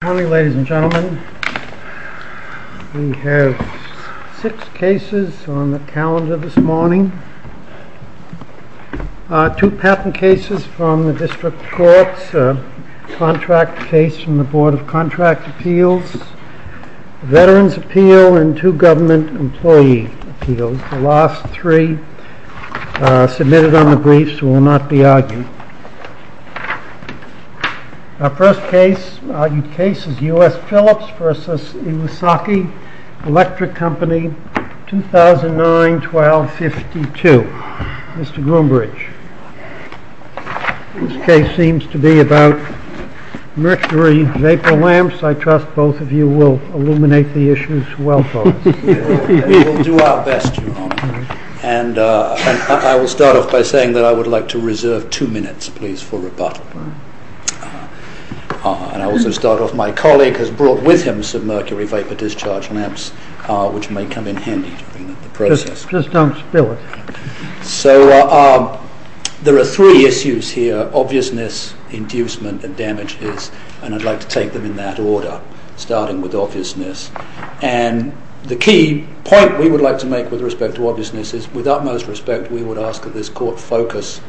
Good morning ladies and gentlemen. We have six cases on the calendar this morning. Two patent cases from the District Courts, a contract case from the Board of Contract Appeals, a Veterans Appeal, and two Government Employee Appeals. The last three submitted on the briefs will not be argued. Our first case is U.S. Philips v. Iwasaki Electric Company, 2009-12-52. Mr. Groombridge, this case seems to be about mercury vapor lamps. I trust both of you will illuminate the issues well for us. We will do our best, and I will start off by saying that I would like to reserve two minutes, please, for rebuttal. I will also start off, my colleague has brought with him some mercury vapor discharge lamps which may come in handy during the process. Just don't spill it. So there are three issues here, obviousness, inducement, and damages, and I'd like to take them in that order, starting with obviousness. And the key point we would like to make with respect to obviousness is, with utmost respect, we would ask that this Court focus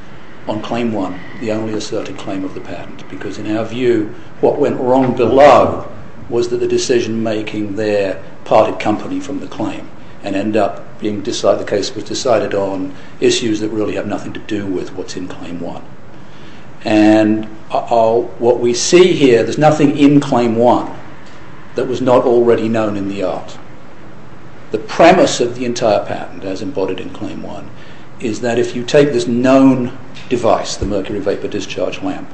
on Claim 1, the only asserted claim of the patent, because in our view what went wrong below was that the decision-making there parted company from the claim and ended up being decided, the case was decided on issues that really have nothing to do with what's in Claim 1. And what we see here, there's nothing in Claim 1 that was not already known in the art. The premise of the entire patent, as embodied in Claim 1, is that if you take this known device, the mercury vapor discharge lamp,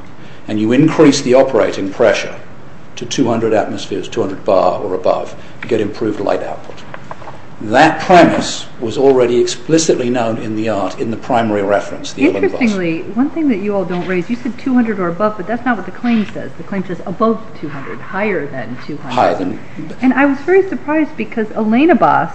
and you increase the operating pressure to 200 atmospheres, 200 bar or above, you get improved light output. That premise was already explicitly known in the art in the primary reference. Interestingly, one thing that you all don't raise, you said 200 or above, but that's not what the claim says. The claim says above 200, higher than 200. And I was very surprised because Elenabas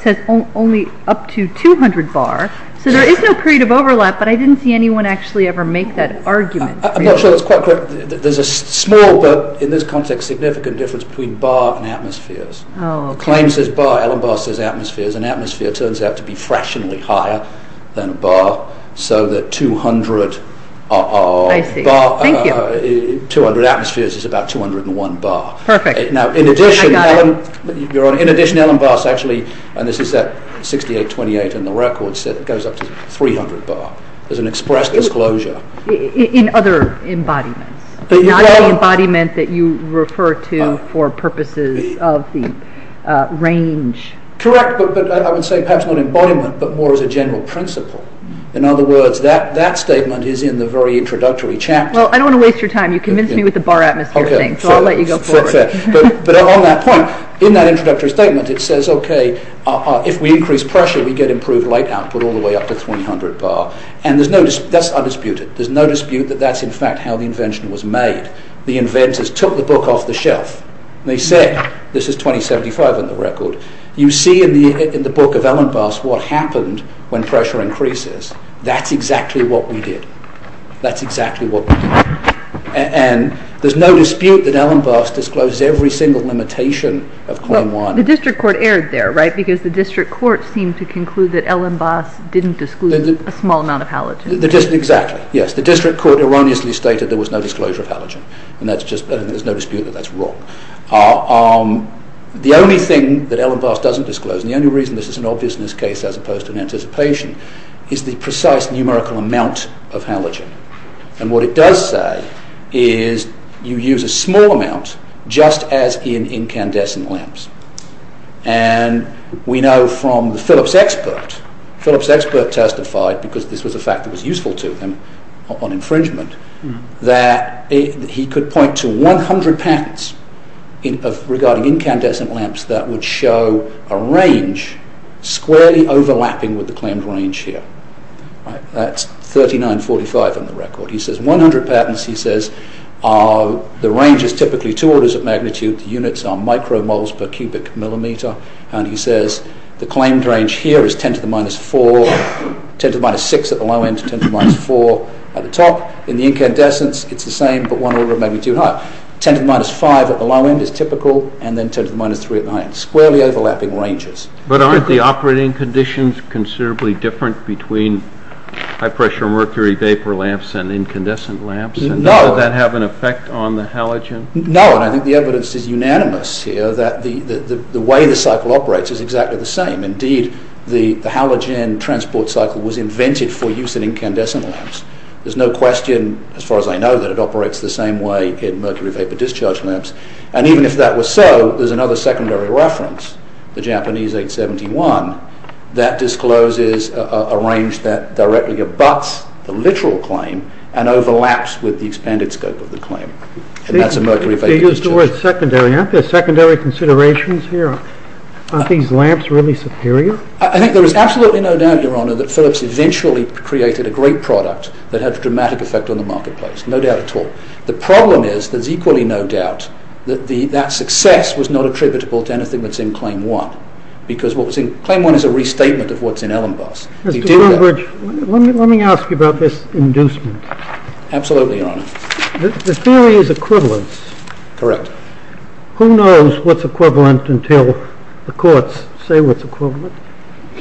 says only up to 200 bar, so there is no period of overlap, but I didn't see anyone actually ever make that argument. I'm not sure that's quite correct. There's a small, but in this context, significant difference between bar and atmospheres. The claim says bar, Elenabas says atmospheres, and atmospheres turns out to be fractionally higher than a bar, so that 200 atmospheres is about 201 bar. In addition, Elenabas actually, and this is at 6828 in the record, said it goes up to 300 bar as an express disclosure. In other embodiments, not the embodiment that you refer to for purposes of the range. Correct, but I would say perhaps not embodiment, but more as a general principle. In other words, that statement is in the very introductory chapter. Well, I don't want to waste your time. You convinced me with the bar atmosphere thing, so I'll let you go forward. But on that point, in that introductory statement, it says, okay, if we increase pressure, we get improved light output all the way up to 300 bar, and that's undisputed. There's no dispute that that's in fact how the invention was made. The inventors took the book off the shelf, and they said, this is 2075 in the record, you see in the book of Elenabas what happened when pressure increases. That's exactly what we did. That's exactly what we did. And there's no dispute that Elenabas discloses every single limitation of claim one. The district court erred there, right, because the district court seemed to conclude that Elenabas didn't disclose a small amount of halogen. Exactly. Yes, the district court erroneously stated there was no disclosure of halogen, and there's no dispute that that's wrong. The only thing that Elenabas doesn't disclose, and the only reason this is an obviousness case and what it does say is you use a small amount just as in incandescent lamps. And we know from the Phillips expert, Phillips expert testified, because this was a fact that was useful to him on infringement, that he could point to 100 patents regarding incandescent lamps that would show a range squarely overlapping with the claimed range here. That's 3945 on the record. He says 100 patents, he says, the range is typically two orders of magnitude, the units are micromoles per cubic millimeter, and he says the claimed range here is 10 to the minus 4, 10 to the minus 6 at the low end, 10 to the minus 4 at the top. In the incandescent it's the same, but one order of magnitude higher. 10 to the minus 5 at the low end is typical, and then 10 to the minus 3 at the high end. Squarely overlapping ranges. But aren't the operating conditions considerably different between high pressure mercury vapor lamps and incandescent lamps? No. And does that have an effect on the halogen? No, and I think the evidence is unanimous here that the way the cycle operates is exactly the same. Indeed, the halogen transport cycle was invented for use in incandescent lamps. There's no question, as far as I know, that it operates the same way in mercury vapor discharge lamps. And even if that were so, there's another secondary reference, the Japanese 871, that discloses a range that directly abuts the literal claim and overlaps with the expanded scope of the claim, and that's a mercury vapor discharge. They use the word secondary, aren't there? Secondary considerations here. Aren't these lamps really superior? I think there is absolutely no doubt, Your Honor, that Philips eventually created a great product that had a dramatic effect on the marketplace. No doubt at all. The problem is there's equally no doubt that that success was not attributable to anything that's in Claim 1, because what's in Claim 1 is a restatement of what's in Ellenbosch. Mr. Woodbridge, let me ask you about this inducement. Absolutely, Your Honor. The theory is equivalence. Correct. Who knows what's equivalent until the courts say what's equivalent?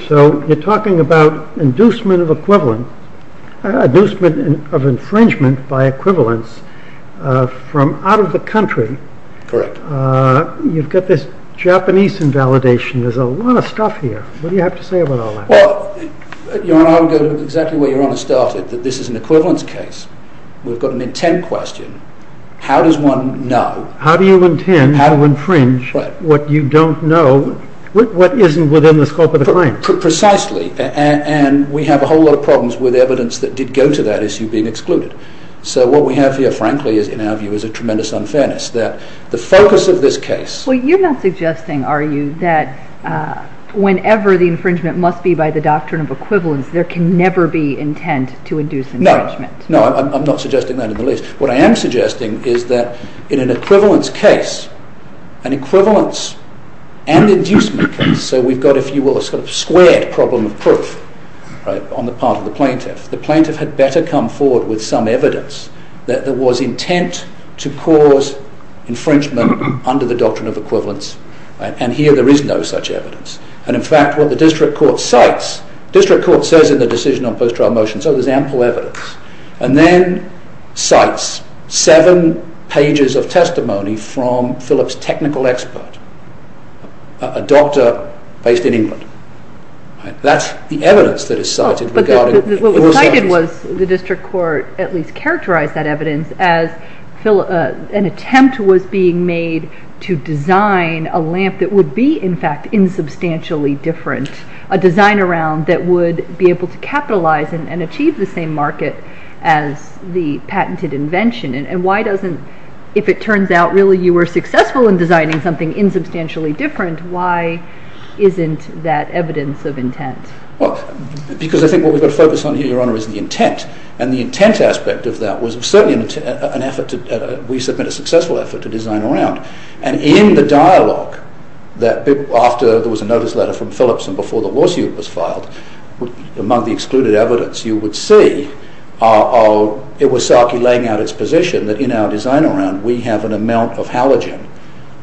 So you're talking about inducement of equivalent, inducement of infringement by equivalence from out of the country. Correct. You've got this Japanese invalidation. There's a lot of stuff here. What do you have to say about all that? Your Honor, I would go exactly where Your Honor started, that this is an equivalence case. We've got an intent question. How does one know? How do you intend to infringe what you don't know, what isn't within the scope of the claim? Precisely. And we have a whole lot of problems with evidence that did go to that issue being excluded. So what we have here, frankly, in our view, is a tremendous unfairness. The focus of this case... Well, you're not suggesting, are you, that whenever the infringement must be by the doctrine of equivalence, there can never be intent to induce infringement. No, I'm not suggesting that in the least. What I am suggesting is that in an equivalence case, an equivalence and inducement case, so we've got, if you will, a sort of squared problem of proof on the part of the plaintiff. The plaintiff had better come forward with some evidence that there was intent to cause infringement under the doctrine of equivalence, and here there is no such evidence. And, in fact, what the district court cites... The district court says in the decision on post-trial motion, so there's ample evidence, and then cites seven pages of testimony from Phillip's technical expert, a doctor based in England. That's the evidence that is cited regarding... What was cited was, the district court at least characterized that evidence as an attempt was being made to design a lamp that would be, in fact, insubstantially different, a design around that would be able to capitalize and achieve the same market as the patented invention. And why doesn't, if it turns out, really you were successful in designing something insubstantially different, why isn't that evidence of intent? Well, because I think what we've got to focus on here, Your Honor, is the intent, and the intent aspect of that was certainly an effort to... We submit a successful effort to design around, and in the dialogue that after there was a notice letter from Phillips and before the lawsuit was filed, among the excluded evidence you would see, it was Sarkey laying out its position that in our design around we have an amount of halogen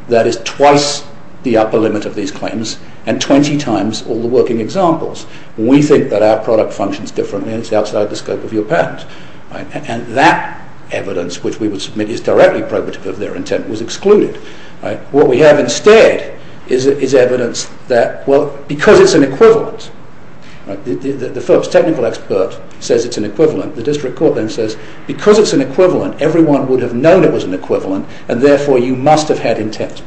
that is twice the upper limit of these claims and 20 times all the working examples. We think that our product functions differently and it's outside the scope of your patent. And that evidence, which we would submit is directly probative of their intent, was excluded. What we have instead is evidence that, well, because it's an equivalent, the Phelps technical expert says it's an equivalent, the district court then says, because it's an equivalent, everyone would have known it was an equivalent and therefore you must have had intent.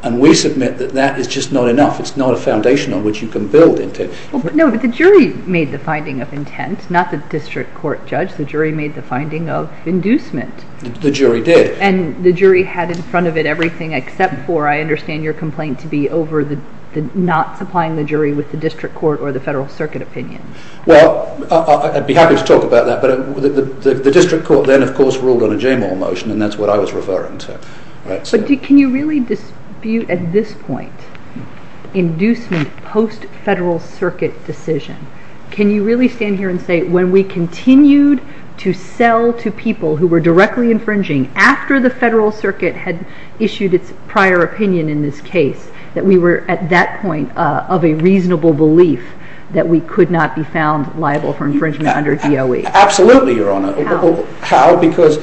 And we submit that that is just not enough. It's not a foundation on which you can build intent. No, but the jury made the finding of intent, not the district court judge. The jury made the finding of inducement. The jury did. And the jury had in front of it everything except for, I understand your complaint to be over the not supplying the jury with the district court or the federal circuit opinion. Well, I'd be happy to talk about that, but the district court then, of course, ruled on a Jamal motion and that's what I was referring to. But can you really dispute at this point inducement post-federal circuit decision? Can you really stand here and say when we continued to sell to people who were directly infringing after the federal circuit had issued its prior opinion in this case, that we were at that point of a reasonable belief that we could not be found liable for infringement under DOE? Absolutely, Your Honor. How? How? Because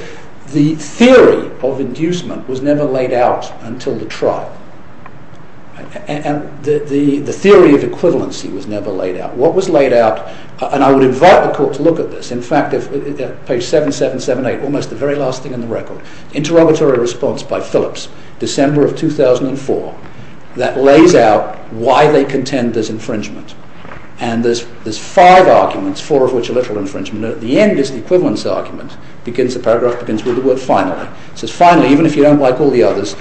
the theory of inducement was never laid out until the trial. And the theory of equivalency was never laid out. What was laid out, and I would invite the court to look at this, in fact, page 7778, almost the very last thing in the record, interrogatory response by Phillips, December of 2004, that lays out why they contend there's infringement. And there's five arguments, four of which are literal infringement. At the end is the equivalence argument. The paragraph begins with the word finally. It says finally, even if you don't like all the others,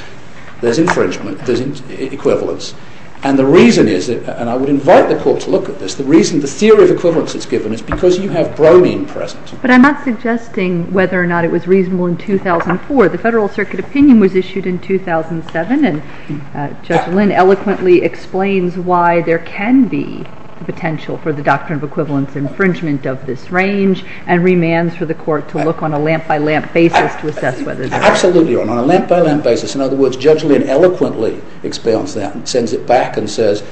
there's infringement, there's equivalence. And the reason is, and I would invite the court to look at this, the reason the theory of equivalence is given is because you have bromine present. But I'm not suggesting whether or not it was reasonable in 2004. The federal circuit opinion was issued in 2007 and Judge Lynn eloquently explains why there can be the potential for the doctrine of equivalence infringement of this range and remands for the court to look on a lamp-by-lamp basis to assess whether there is. Absolutely on a lamp-by-lamp basis. In other words, Judge Lynn eloquently expounds that and sends it back and says,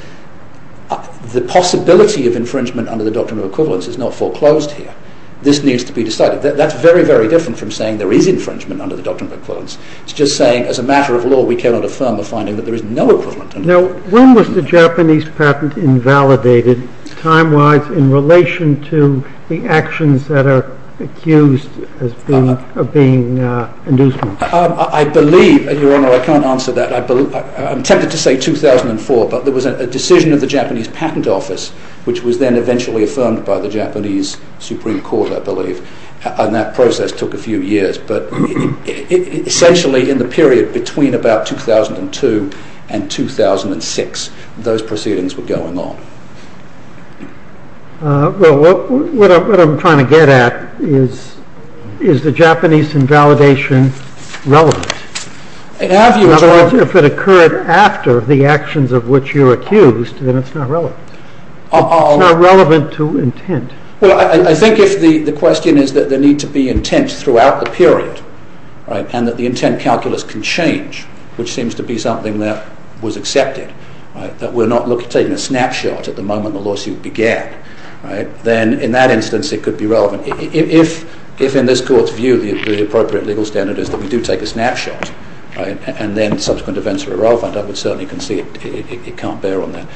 the possibility of infringement under the doctrine of equivalence is not foreclosed here. This needs to be decided. That's very, very different from saying there is infringement under the doctrine of equivalence. It's just saying, as a matter of law, we cannot affirm the finding that there is no equivalence. Now, when was the Japanese patent invalidated, time-wise, in relation to the actions that are accused of being inducement? I believe, Your Honor, I can't answer that. I'm tempted to say 2004, but there was a decision of the Japanese patent office which was then eventually affirmed by the Japanese Supreme Court, I believe. And that process took a few years. But essentially, in the period between about 2002 and 2006, those proceedings were going on. Well, what I'm trying to get at is, is the Japanese invalidation relevant? In other words, if it occurred after the actions of which you're accused, then it's not relevant. It's not relevant to intent. Well, I think if the question is that there needs to be intent throughout the period, right, and that the intent calculus can change, which seems to be something that was accepted, right, that we're not taking a snapshot at the moment the lawsuit began, right, then, in that instance, it could be relevant. If, in this Court's view, the appropriate legal standard is that we do take a snapshot, right, and then subsequent events are irrelevant, I would certainly concede it can't bear on that.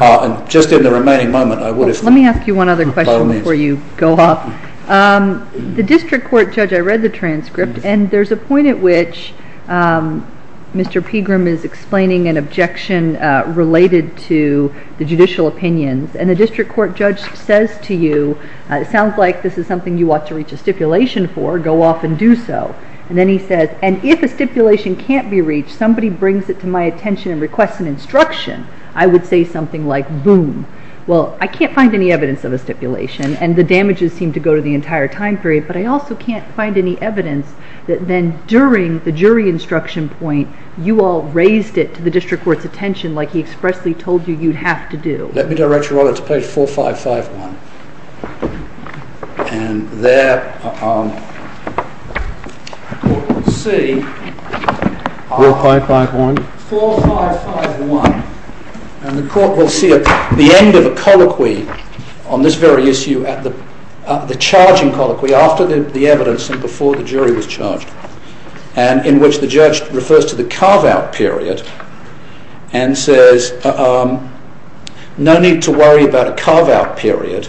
And just in the remaining moment, I would, if... Let me ask you one other question before you go off. The district court judge, I read the transcript, and there's a point at which Mr. Pegram is explaining an objection related to the judicial opinions, and the district court judge says to you, it sounds like this is something you ought to reach a stipulation for, go off and do so. And then he says, and if a stipulation can't be reached, somebody brings it to my attention and requests an instruction, I would say something like, boom. Well, I can't find any evidence of a stipulation, and the damages seem to go to the entire time period, but I also can't find any evidence that then, during the jury instruction point, you all raised it to the district court's attention like he expressly told you you'd have to do. Let me direct you all to page 4551. And there... ...the Court will see... 4551. 4551. And the Court will see the end of a colloquy on this very issue at the charging colloquy after the evidence and before the jury was charged, and in which the judge refers to the carve-out period and says, no need to worry about a carve-out period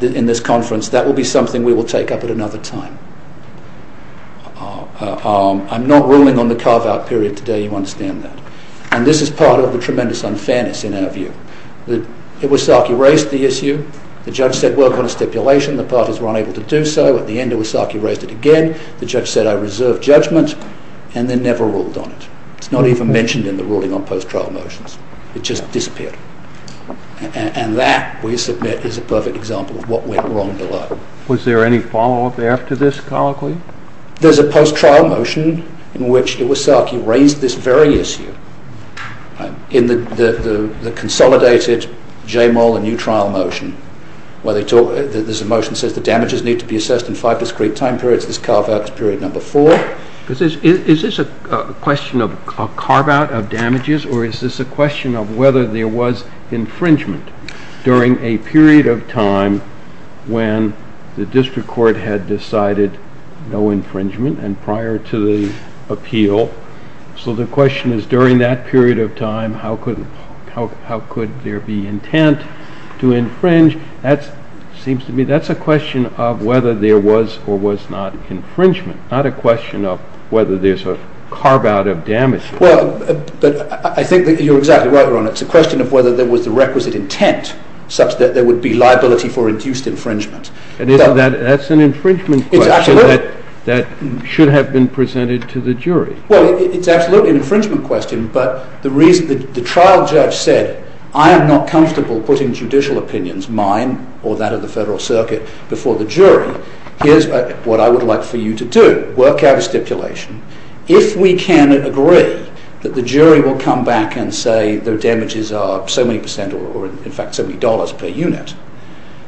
in this conference, that will be something we will take up at another time. I'm not ruling on the carve-out period today, you understand that. And this is part of the tremendous unfairness in our view. Iwasaki raised the issue, the judge said work on a stipulation, the parties were unable to do so, at the end Iwasaki raised it again, the judge said I reserve judgment, and then never ruled on it. It's not even mentioned in the ruling on post-trial motions. It just disappeared. And that, we submit, is a perfect example of what went wrong below. Was there any follow-up after this colloquy? There's a post-trial motion in which Iwasaki raised this very issue in the consolidated J-mole and U-trial motion, where there's a motion that says the damages need to be assessed in five discrete time periods, this carve-out is period number four. Is this a question of a carve-out of damages, or is this a question of whether there was infringement during a period of time and prior to the appeal. So the question is, during that period of time, how could there be intent to infringe? That's a question of whether there was or was not infringement, not a question of whether there's a carve-out of damages. Well, I think you're exactly right, Your Honor. It's a question of whether there was the requisite intent such that there would be liability for induced infringement. That's an infringement question that should have been presented to the jury. Well, it's absolutely an infringement question, but the trial judge said, I am not comfortable putting judicial opinions, mine or that of the Federal Circuit, before the jury. Here's what I would like for you to do. Work out a stipulation. If we can agree that the jury will come back and say their damages are so many percent, or in fact so many dollars per unit,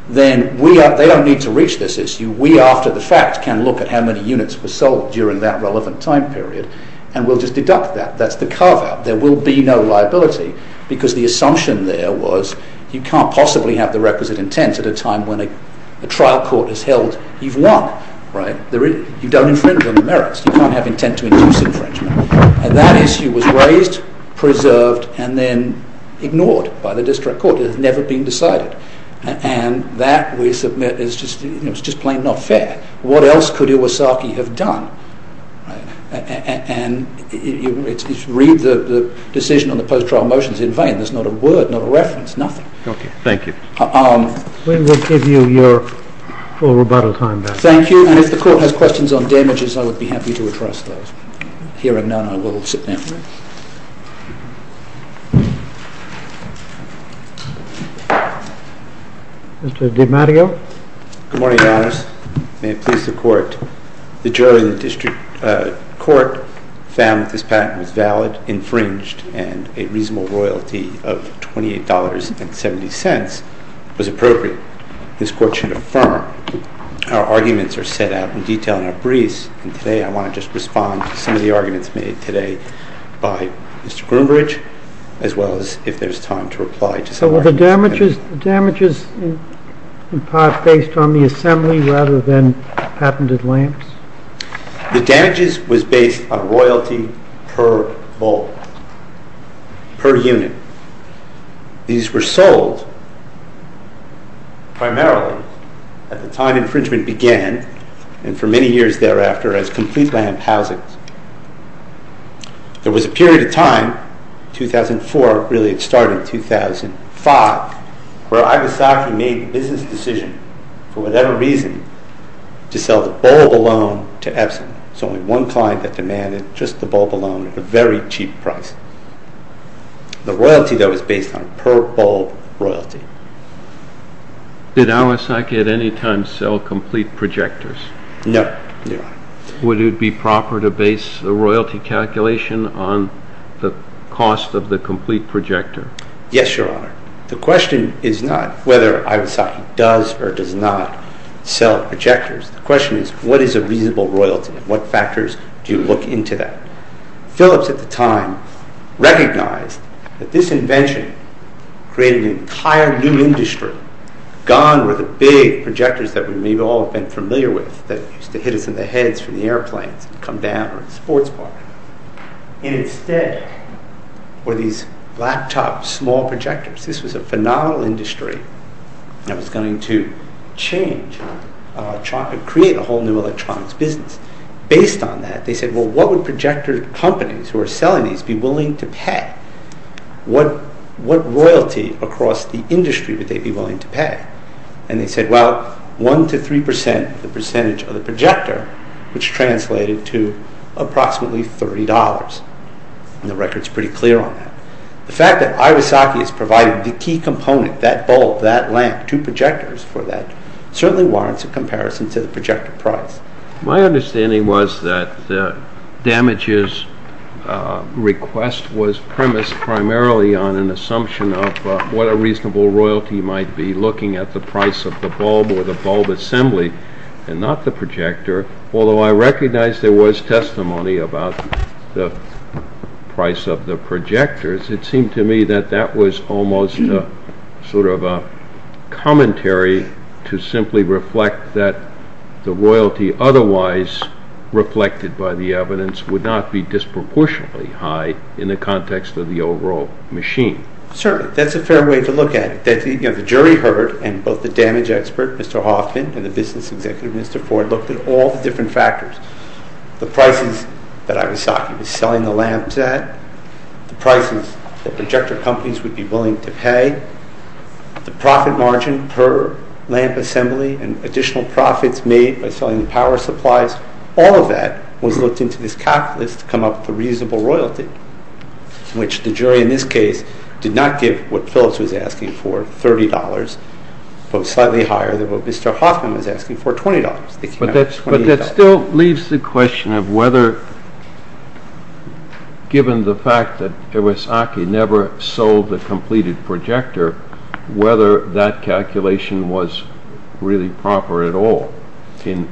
then they don't need to reach this issue. We, after the fact, can look at how many units were sold during that relevant time period, and we'll just deduct that. That's the carve-out. There will be no liability, because the assumption there was you can't possibly have the requisite intent at a time when a trial court has held you've won. You don't infringe on the merits. You can't have intent to induce infringement. And that issue was raised, preserved, and then ignored by the district court. It has never been decided. And that, we submit, is just plain not fair. What else could Iwasaki have done? And read the decision on the post-trial motions in vain. There's not a word, not a reference, nothing. Okay. Thank you. We will give you your full rebuttal time back. Thank you. And if the court has questions on damages, I would be happy to address those. Hearing none, I will sit down. Mr. DiMatteo? Good morning, Your Honors. May it please the Court. The jury in the district court found that this patent was valid, infringed, and a reasonable royalty of $28.70 was appropriate. This Court should affirm. Our arguments are set out in detail in our briefs, and today I want to just respond to some of the arguments made today by Mr. Groombridge, as well as if there's time to reply to some arguments. Were the damages in part based on the assembly rather than patented lamps? The damages was based on royalty per volt, per unit. These were sold primarily at the time infringement began, and for many years thereafter as complete lamp housings. There was a period of time, 2004, really it started in 2005, where Iwasaki made the business decision for whatever reason to sell the bulb alone to Epson. There was only one client that demanded just the bulb alone at a very cheap price. The royalty, though, was based on per bulb royalty. Did Iwasaki at any time sell complete projectors? No, Your Honor. Would it be proper to base the royalty calculation on the cost of the complete projector? Yes, Your Honor. The question is not whether Iwasaki does or does not sell projectors. The question is what is a reasonable royalty and what factors do you look into that? Phillips at the time recognized that this invention created an entire new industry. Gone were the big projectors that we may have all been familiar with that used to hit us in the heads from the airplanes and come down or at the sports park. Instead were these laptops, small projectors. This was a phenomenal industry that was going to change, create a whole new electronics business. Based on that, they said, well, what would projector companies who are selling these be willing to pay? What royalty across the industry would they be willing to pay? They said, well, one to three percent of the percentage of the projector, which translated to approximately $30. The record is pretty clear on that. The fact that Iwasaki has provided the key component, that bulb, that lamp, two projectors for that, certainly warrants a comparison to the projector price. My understanding was that damages request was premised primarily on an assumption of what a reasonable royalty might be looking at the price of the bulb or the bulb assembly and not the projector. Although I recognize there was testimony about the price of the projectors, it seemed to me that that was almost sort of a commentary to simply reflect that the royalty otherwise reflected by the evidence would not be disproportionately high in the context of the overall machine. Certainly, that's a fair way to look at it. The jury heard, and both the damage expert, Mr. Hoffman, and the business executive, Mr. Ford, looked at all the different factors. The prices that Iwasaki was selling the lamps at, the prices that projector companies would be willing to pay, the profit margin per lamp assembly and additional profits made by selling the power supplies, all of that was looked into this calculus to come up with a reasonable royalty, which the jury in this case did not give what Phillips was asking for, $30, but slightly higher than what Mr. Hoffman was asking for, $20. But that still leaves the question of whether, given the fact that Iwasaki never sold the completed projector, whether that calculation was really proper at all in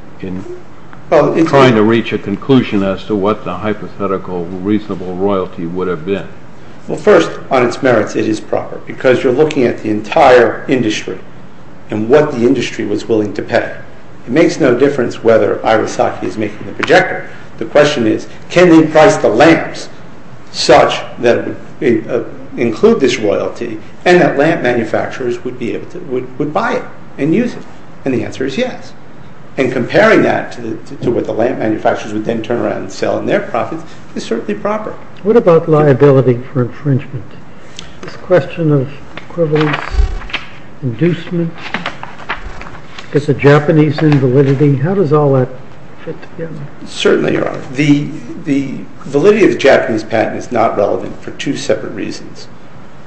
trying to reach a conclusion as to what the hypothetical reasonable royalty would have been. Well, first, on its merits, it is proper because you're looking at the entire industry and what the industry was willing to pay. It makes no difference whether Iwasaki is making the projector. The question is, can we price the lamps such that include this royalty and that lamp manufacturers would buy it and use it? And the answer is yes. And comparing that to what the lamp manufacturers would then turn around and sell in their profits is certainly proper. What about liability for infringement? This question of equivalence, inducement, is it Japanese invalidity? How does all that fit together? Certainly, Your Honor. The validity of the Japanese patent is not relevant for two separate reasons.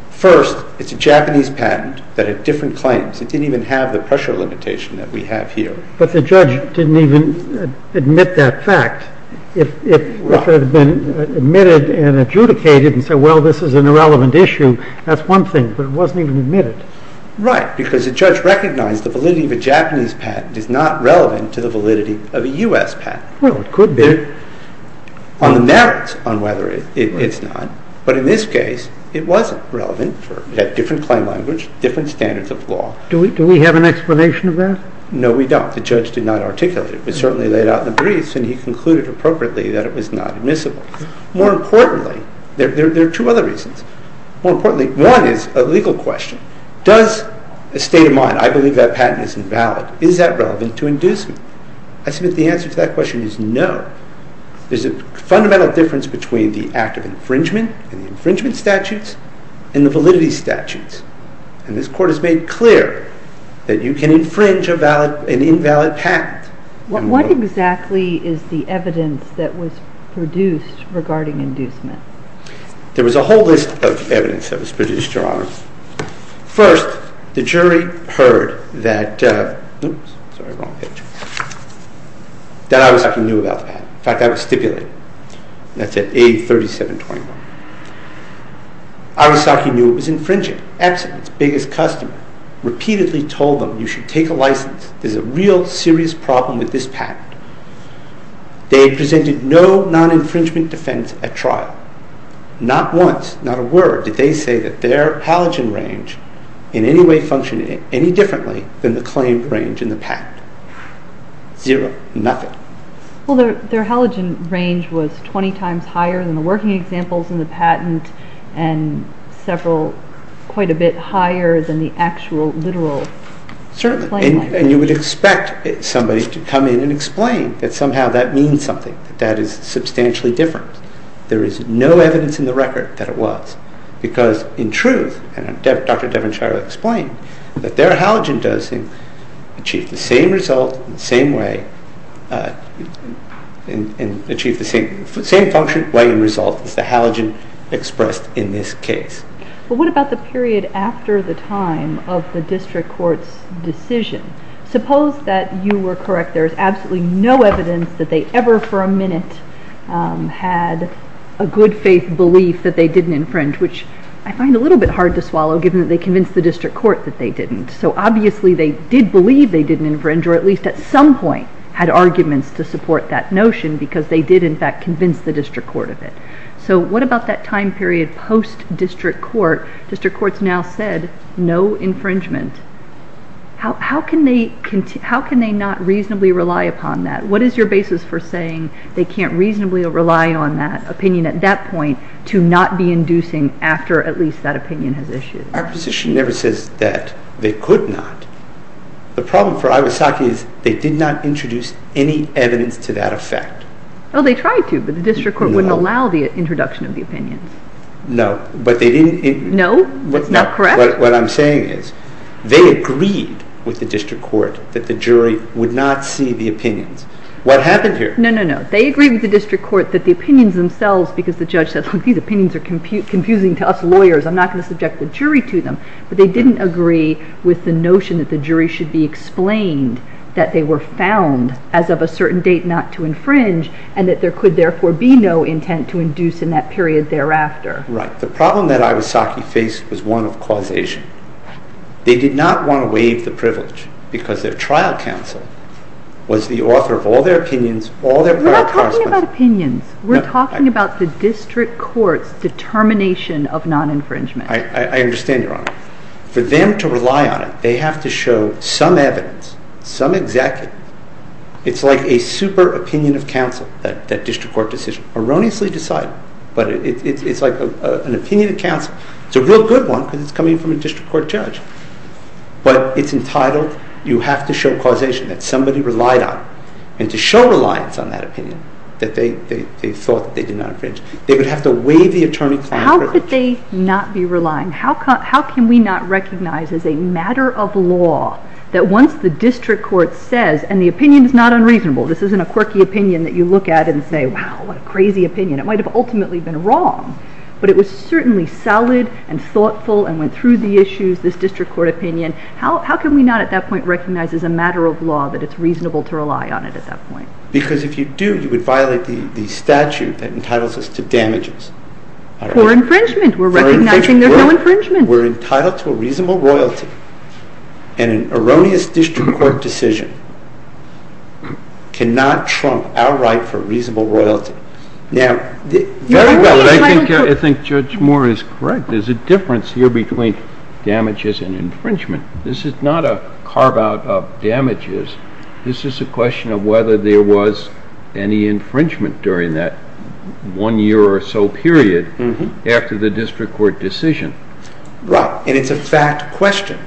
First, it's a Japanese patent that had different claims. It didn't even have the pressure limitation that we have here. But the judge didn't even admit that fact. If it had been admitted and adjudicated and said, well, this is an irrelevant issue, that's one thing, but it wasn't even admitted. Right, because the judge recognized the validity of a Japanese patent is not relevant to the validity of a U.S. patent. Well, it could be. On the merits on whether it's not. But in this case, it wasn't relevant. It had different claim language, different standards of law. Do we have an explanation of that? No, we don't. The judge did not articulate it. It was certainly laid out in the briefs, and he concluded appropriately that it was not admissible. More importantly, there are two other reasons. More importantly, one is a legal question. Does a state of mind, I believe that patent is invalid, is that relevant to inducement? I submit the answer to that question is no. There's a fundamental difference between the act of infringement and the infringement statutes and the validity statutes. And this court has made clear that you can infringe an invalid patent. What exactly is the evidence that was produced regarding inducement? There was a whole list of evidence that was produced, Your Honor. First, the jury heard that, oops, sorry, wrong picture, that I was talking new about the patent. In fact, I was stipulating. That's at A3721. Arasaki knew it was infringing. Epson, its biggest customer, repeatedly told them, you should take a license. There's a real serious problem with this patent. They presented no non-infringement defense at trial. Not once, not a word, did they say that their halogen range in any way functioned any differently than the claimed range in the patent. Zero, nothing. Well, their halogen range was 20 times higher than the working examples in the patent and several quite a bit higher than the actual literal claimed range. And you would expect somebody to come in and explain that somehow that means something, that that is substantially different. There is no evidence in the record that it was because, in truth, and Dr. Devonshire explained, that their halogen dosing achieved the same result in the same way and achieved the same function, way, and result as the halogen expressed in this case. Well, what about the period after the time of the district court's decision? Suppose that you were correct. There is absolutely no evidence that they ever for a minute had a good faith belief that they didn't infringe, which I find a little bit hard to swallow given that they convinced the district court that they didn't. So obviously they did believe they didn't infringe or at least at some point had arguments to support that notion because they did in fact convince the district court of it. So what about that time period post-district court? District courts now said no infringement. How can they not reasonably rely upon that? What is your basis for saying they can't reasonably rely on that opinion at that point to not be inducing after at least that opinion has issued? Our position never says that they could not. The problem for Iwasaki is they did not introduce any evidence to that effect. Well, they tried to, but the district court wouldn't allow the introduction of the opinions. No, but they didn't. No, that's not correct. What I'm saying is they agreed with the district court that the jury would not see the opinions. What happened here? No, no, no. They agreed with the district court that the opinions themselves, because the judge said, look, these opinions are confusing to us lawyers. I'm not going to subject the jury to them. But they didn't agree with the notion that the jury should be explained that they were found as of a certain date not to infringe and that there could therefore be no intent to induce in that period thereafter. Right. The problem that Iwasaki faced was one of causation. They did not want to waive the privilege because their trial counsel was the author of all their opinions, all their prior correspondence. We're not talking about opinions. We're talking about the district court's determination of non-infringement. I understand, Your Honor. For them to rely on it, they have to show some evidence, some executive. It's like a super opinion of counsel, that district court decision. Erroneously decided, but it's like an opinion of counsel. It's a real good one because it's coming from a district court judge. But it's entitled, you have to show causation that somebody relied on and to show reliance on that opinion that they thought they did not infringe. They would have to waive the attorney client privilege. How could they not be relying? How can we not recognize as a matter of law that once the district court says, and the opinion is not unreasonable. This isn't a quirky opinion that you look at and say, wow, what a crazy opinion. It might have ultimately been wrong, but it was certainly solid and thoughtful and went through the issues, this district court opinion. How can we not at that point recognize as a matter of law that it's reasonable to rely on it at that point? Because if you do, you would violate the statute that entitles us to damages. For infringement. We're recognizing there's no infringement. We're entitled to a reasonable royalty, and an erroneous district court decision cannot trump our right for reasonable royalty. I think Judge Moore is correct. There's a difference here between damages and infringement. This is not a carve-out of damages. This is a question of whether there was any infringement during that one year or so period after the district court decision. Right. And it's a fact question.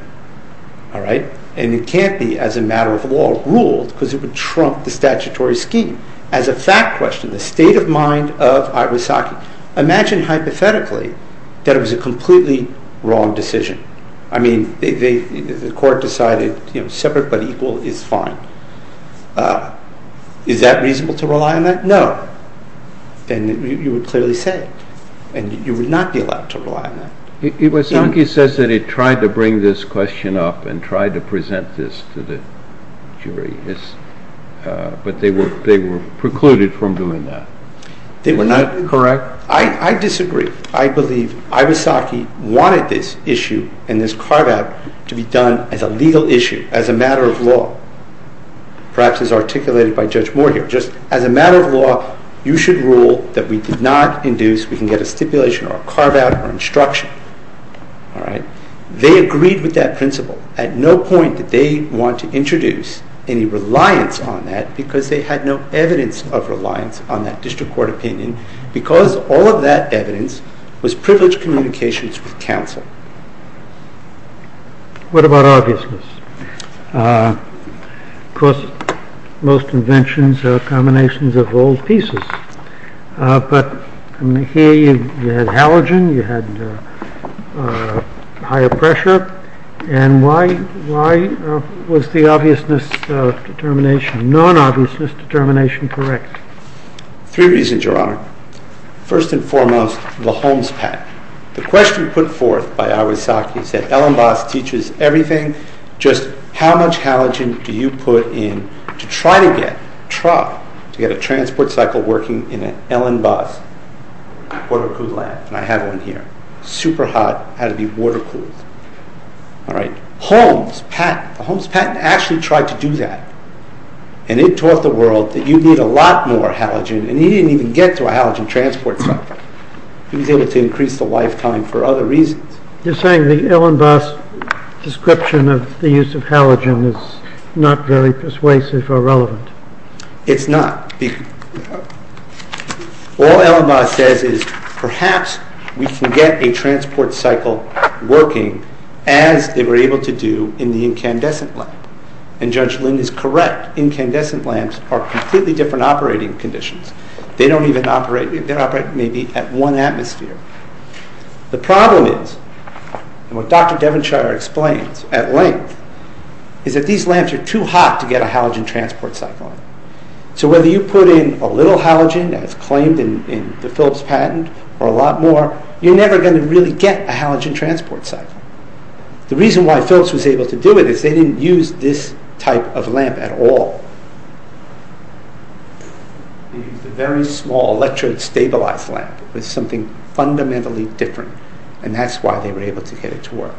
All right? And it can't be as a matter of law ruled because it would trump the statutory scheme. As a fact question, the state of mind of Iwasaki. Now, imagine hypothetically that it was a completely wrong decision. I mean, the court decided separate but equal is fine. Is that reasonable to rely on that? No. And you would clearly say it. And you would not be allowed to rely on that. Iwasaki says that he tried to bring this question up and tried to present this to the jury, but they were precluded from doing that. They were not? Correct. I disagree. I believe Iwasaki wanted this issue and this carve-out to be done as a legal issue, as a matter of law, perhaps as articulated by Judge Moore here. Just as a matter of law, you should rule that we did not induce, we can get a stipulation or a carve-out or instruction. All right? They agreed with that principle. At no point did they want to introduce any reliance on that because they had no evidence of reliance on that district court opinion because all of that evidence was privileged communications with counsel. What about obviousness? Of course, most inventions are combinations of old pieces, but here you had halogen, you had higher pressure, and why was the non-obviousness determination correct? Three reasons, Your Honor. First and foremost, the Holmes patent. The question put forth by Iwasaki is that Ellenbos teaches everything, just how much halogen do you put in to try to get a transport cycle working in an Ellenbos water-cooled lab, and I have one here, super hot, had to be water-cooled. All right. Holmes patent, the Holmes patent actually tried to do that, and it taught the world that you need a lot more halogen, and he didn't even get to a halogen transport cycle. He was able to increase the lifetime for other reasons. You're saying the Ellenbos description of the use of halogen is not very persuasive or relevant? It's not. All Ellenbos says is perhaps we can get a transport cycle working as they were able to do in the incandescent lamp, and Judge Lind is correct. Incandescent lamps are completely different operating conditions. They don't even operate. They operate maybe at one atmosphere. The problem is, and what Dr. Devonshire explains at length, is that these lamps are too hot to get a halogen transport cycle on. So whether you put in a little halogen, as claimed in the Phillips patent, or a lot more, you're never going to really get a halogen transport cycle. The reason why Phillips was able to do it is they didn't use this type of lamp at all. They used a very small electrostabilized lamp with something fundamentally different, and that's why they were able to get it to work.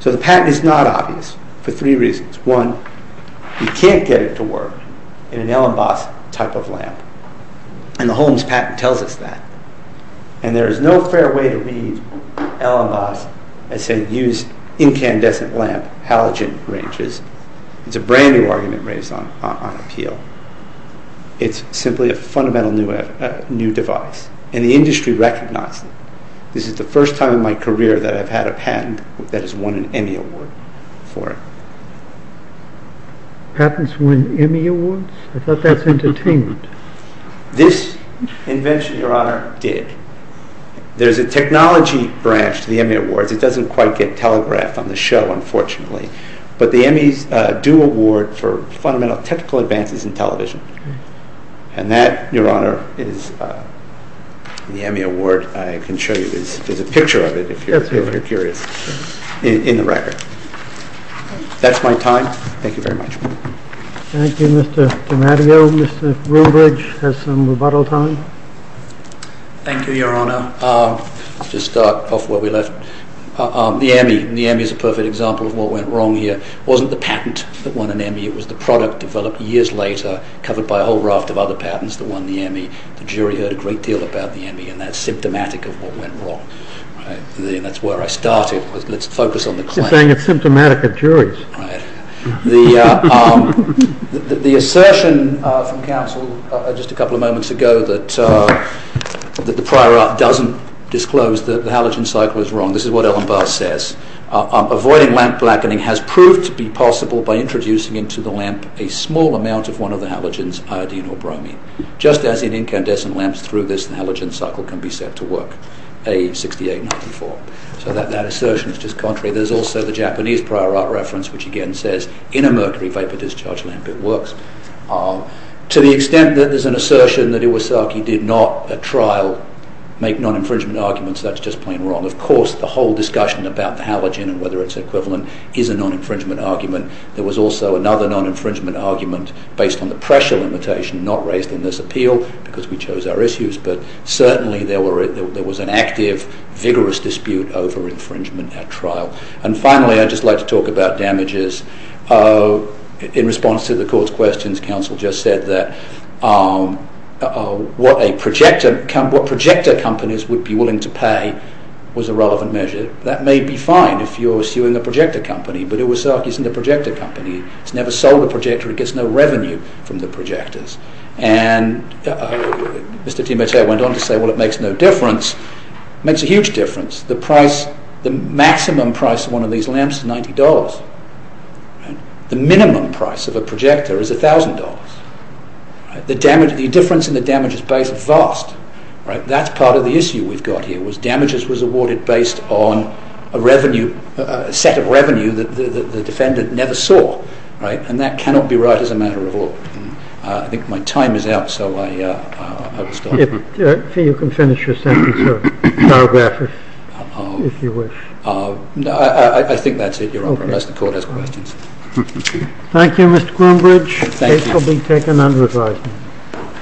So the patent is not obvious for three reasons. One, you can't get it to work in an Ellenbos type of lamp, and the Holmes patent tells us that. And there is no fair way to read Ellenbos as saying use incandescent lamp halogen ranges. It's a brand-new argument raised on appeal. It's simply a fundamental new device, and the industry recognizes it. This is the first time in my career that I've had a patent that has won an Emmy Award for it. Patents win Emmy Awards? I thought that's entertainment. This invention, Your Honor, did. There's a technology branch to the Emmy Awards. It doesn't quite get telegraphed on the show, unfortunately, but the Emmys do award for fundamental technical advances in television, and that, Your Honor, is the Emmy Award. I can show you this. There's a picture of it, if you're curious, in the record. That's my time. Thank you very much. Thank you, Mr. DiMatteo. Mr. Roombridge has some rebuttal time. Thank you, Your Honor. Let's just start off where we left. The Emmy. The Emmy is a perfect example of what went wrong here. It wasn't the patent that won an Emmy. It was the product developed years later, covered by a whole raft of other patents that won the Emmy. The jury heard a great deal about the Emmy and that's symptomatic of what went wrong. That's where I started. Let's focus on the claim. He's saying it's symptomatic of juries. Right. The assertion from counsel just a couple of moments ago that the prior art doesn't disclose that the halogen cycle is wrong. This is what Ellen Barthes says. Avoiding lamp blackening has proved to be possible by introducing into the lamp a small amount of one of the halogens, iodine or bromine. Just as in incandescent lamps, through this the halogen cycle can be set to work, A6894. That assertion is just contrary. There's also the Japanese prior art reference, which again says in a mercury vapor discharge lamp it works. To the extent that there's an assertion that Iwasaki did not at trial make non-infringement arguments, that's just plain wrong. Of course, the whole discussion about the halogen and whether it's equivalent is a non-infringement argument. There was also another non-infringement argument based on the pressure limitation not raised in this appeal because we chose our issues, but certainly there was an active, vigorous dispute over infringement at trial. And finally, I'd just like to talk about damages. In response to the court's questions, counsel just said that what projector companies would be willing to pay was a relevant measure. That may be fine if you're suing a projector company, but Iwasaki isn't a projector company. It's never sold a projector. It gets no revenue from the projectors. And Mr. DiMatteo went on to say, well, it makes no difference. It makes a huge difference. The maximum price of one of these lamps is $90. The minimum price of a projector is $1,000. The difference in the damages base is vast. That's part of the issue we've got here was damages was awarded based on a set of revenue that the defendant never saw. And that cannot be right as a matter of law. I think my time is up, so I will stop. You can finish your sentence or paragraph it, if you wish. I think that's it, Your Honour. Unless the court has questions. Thank you, Mr. Groombridge. This will be taken under advisement.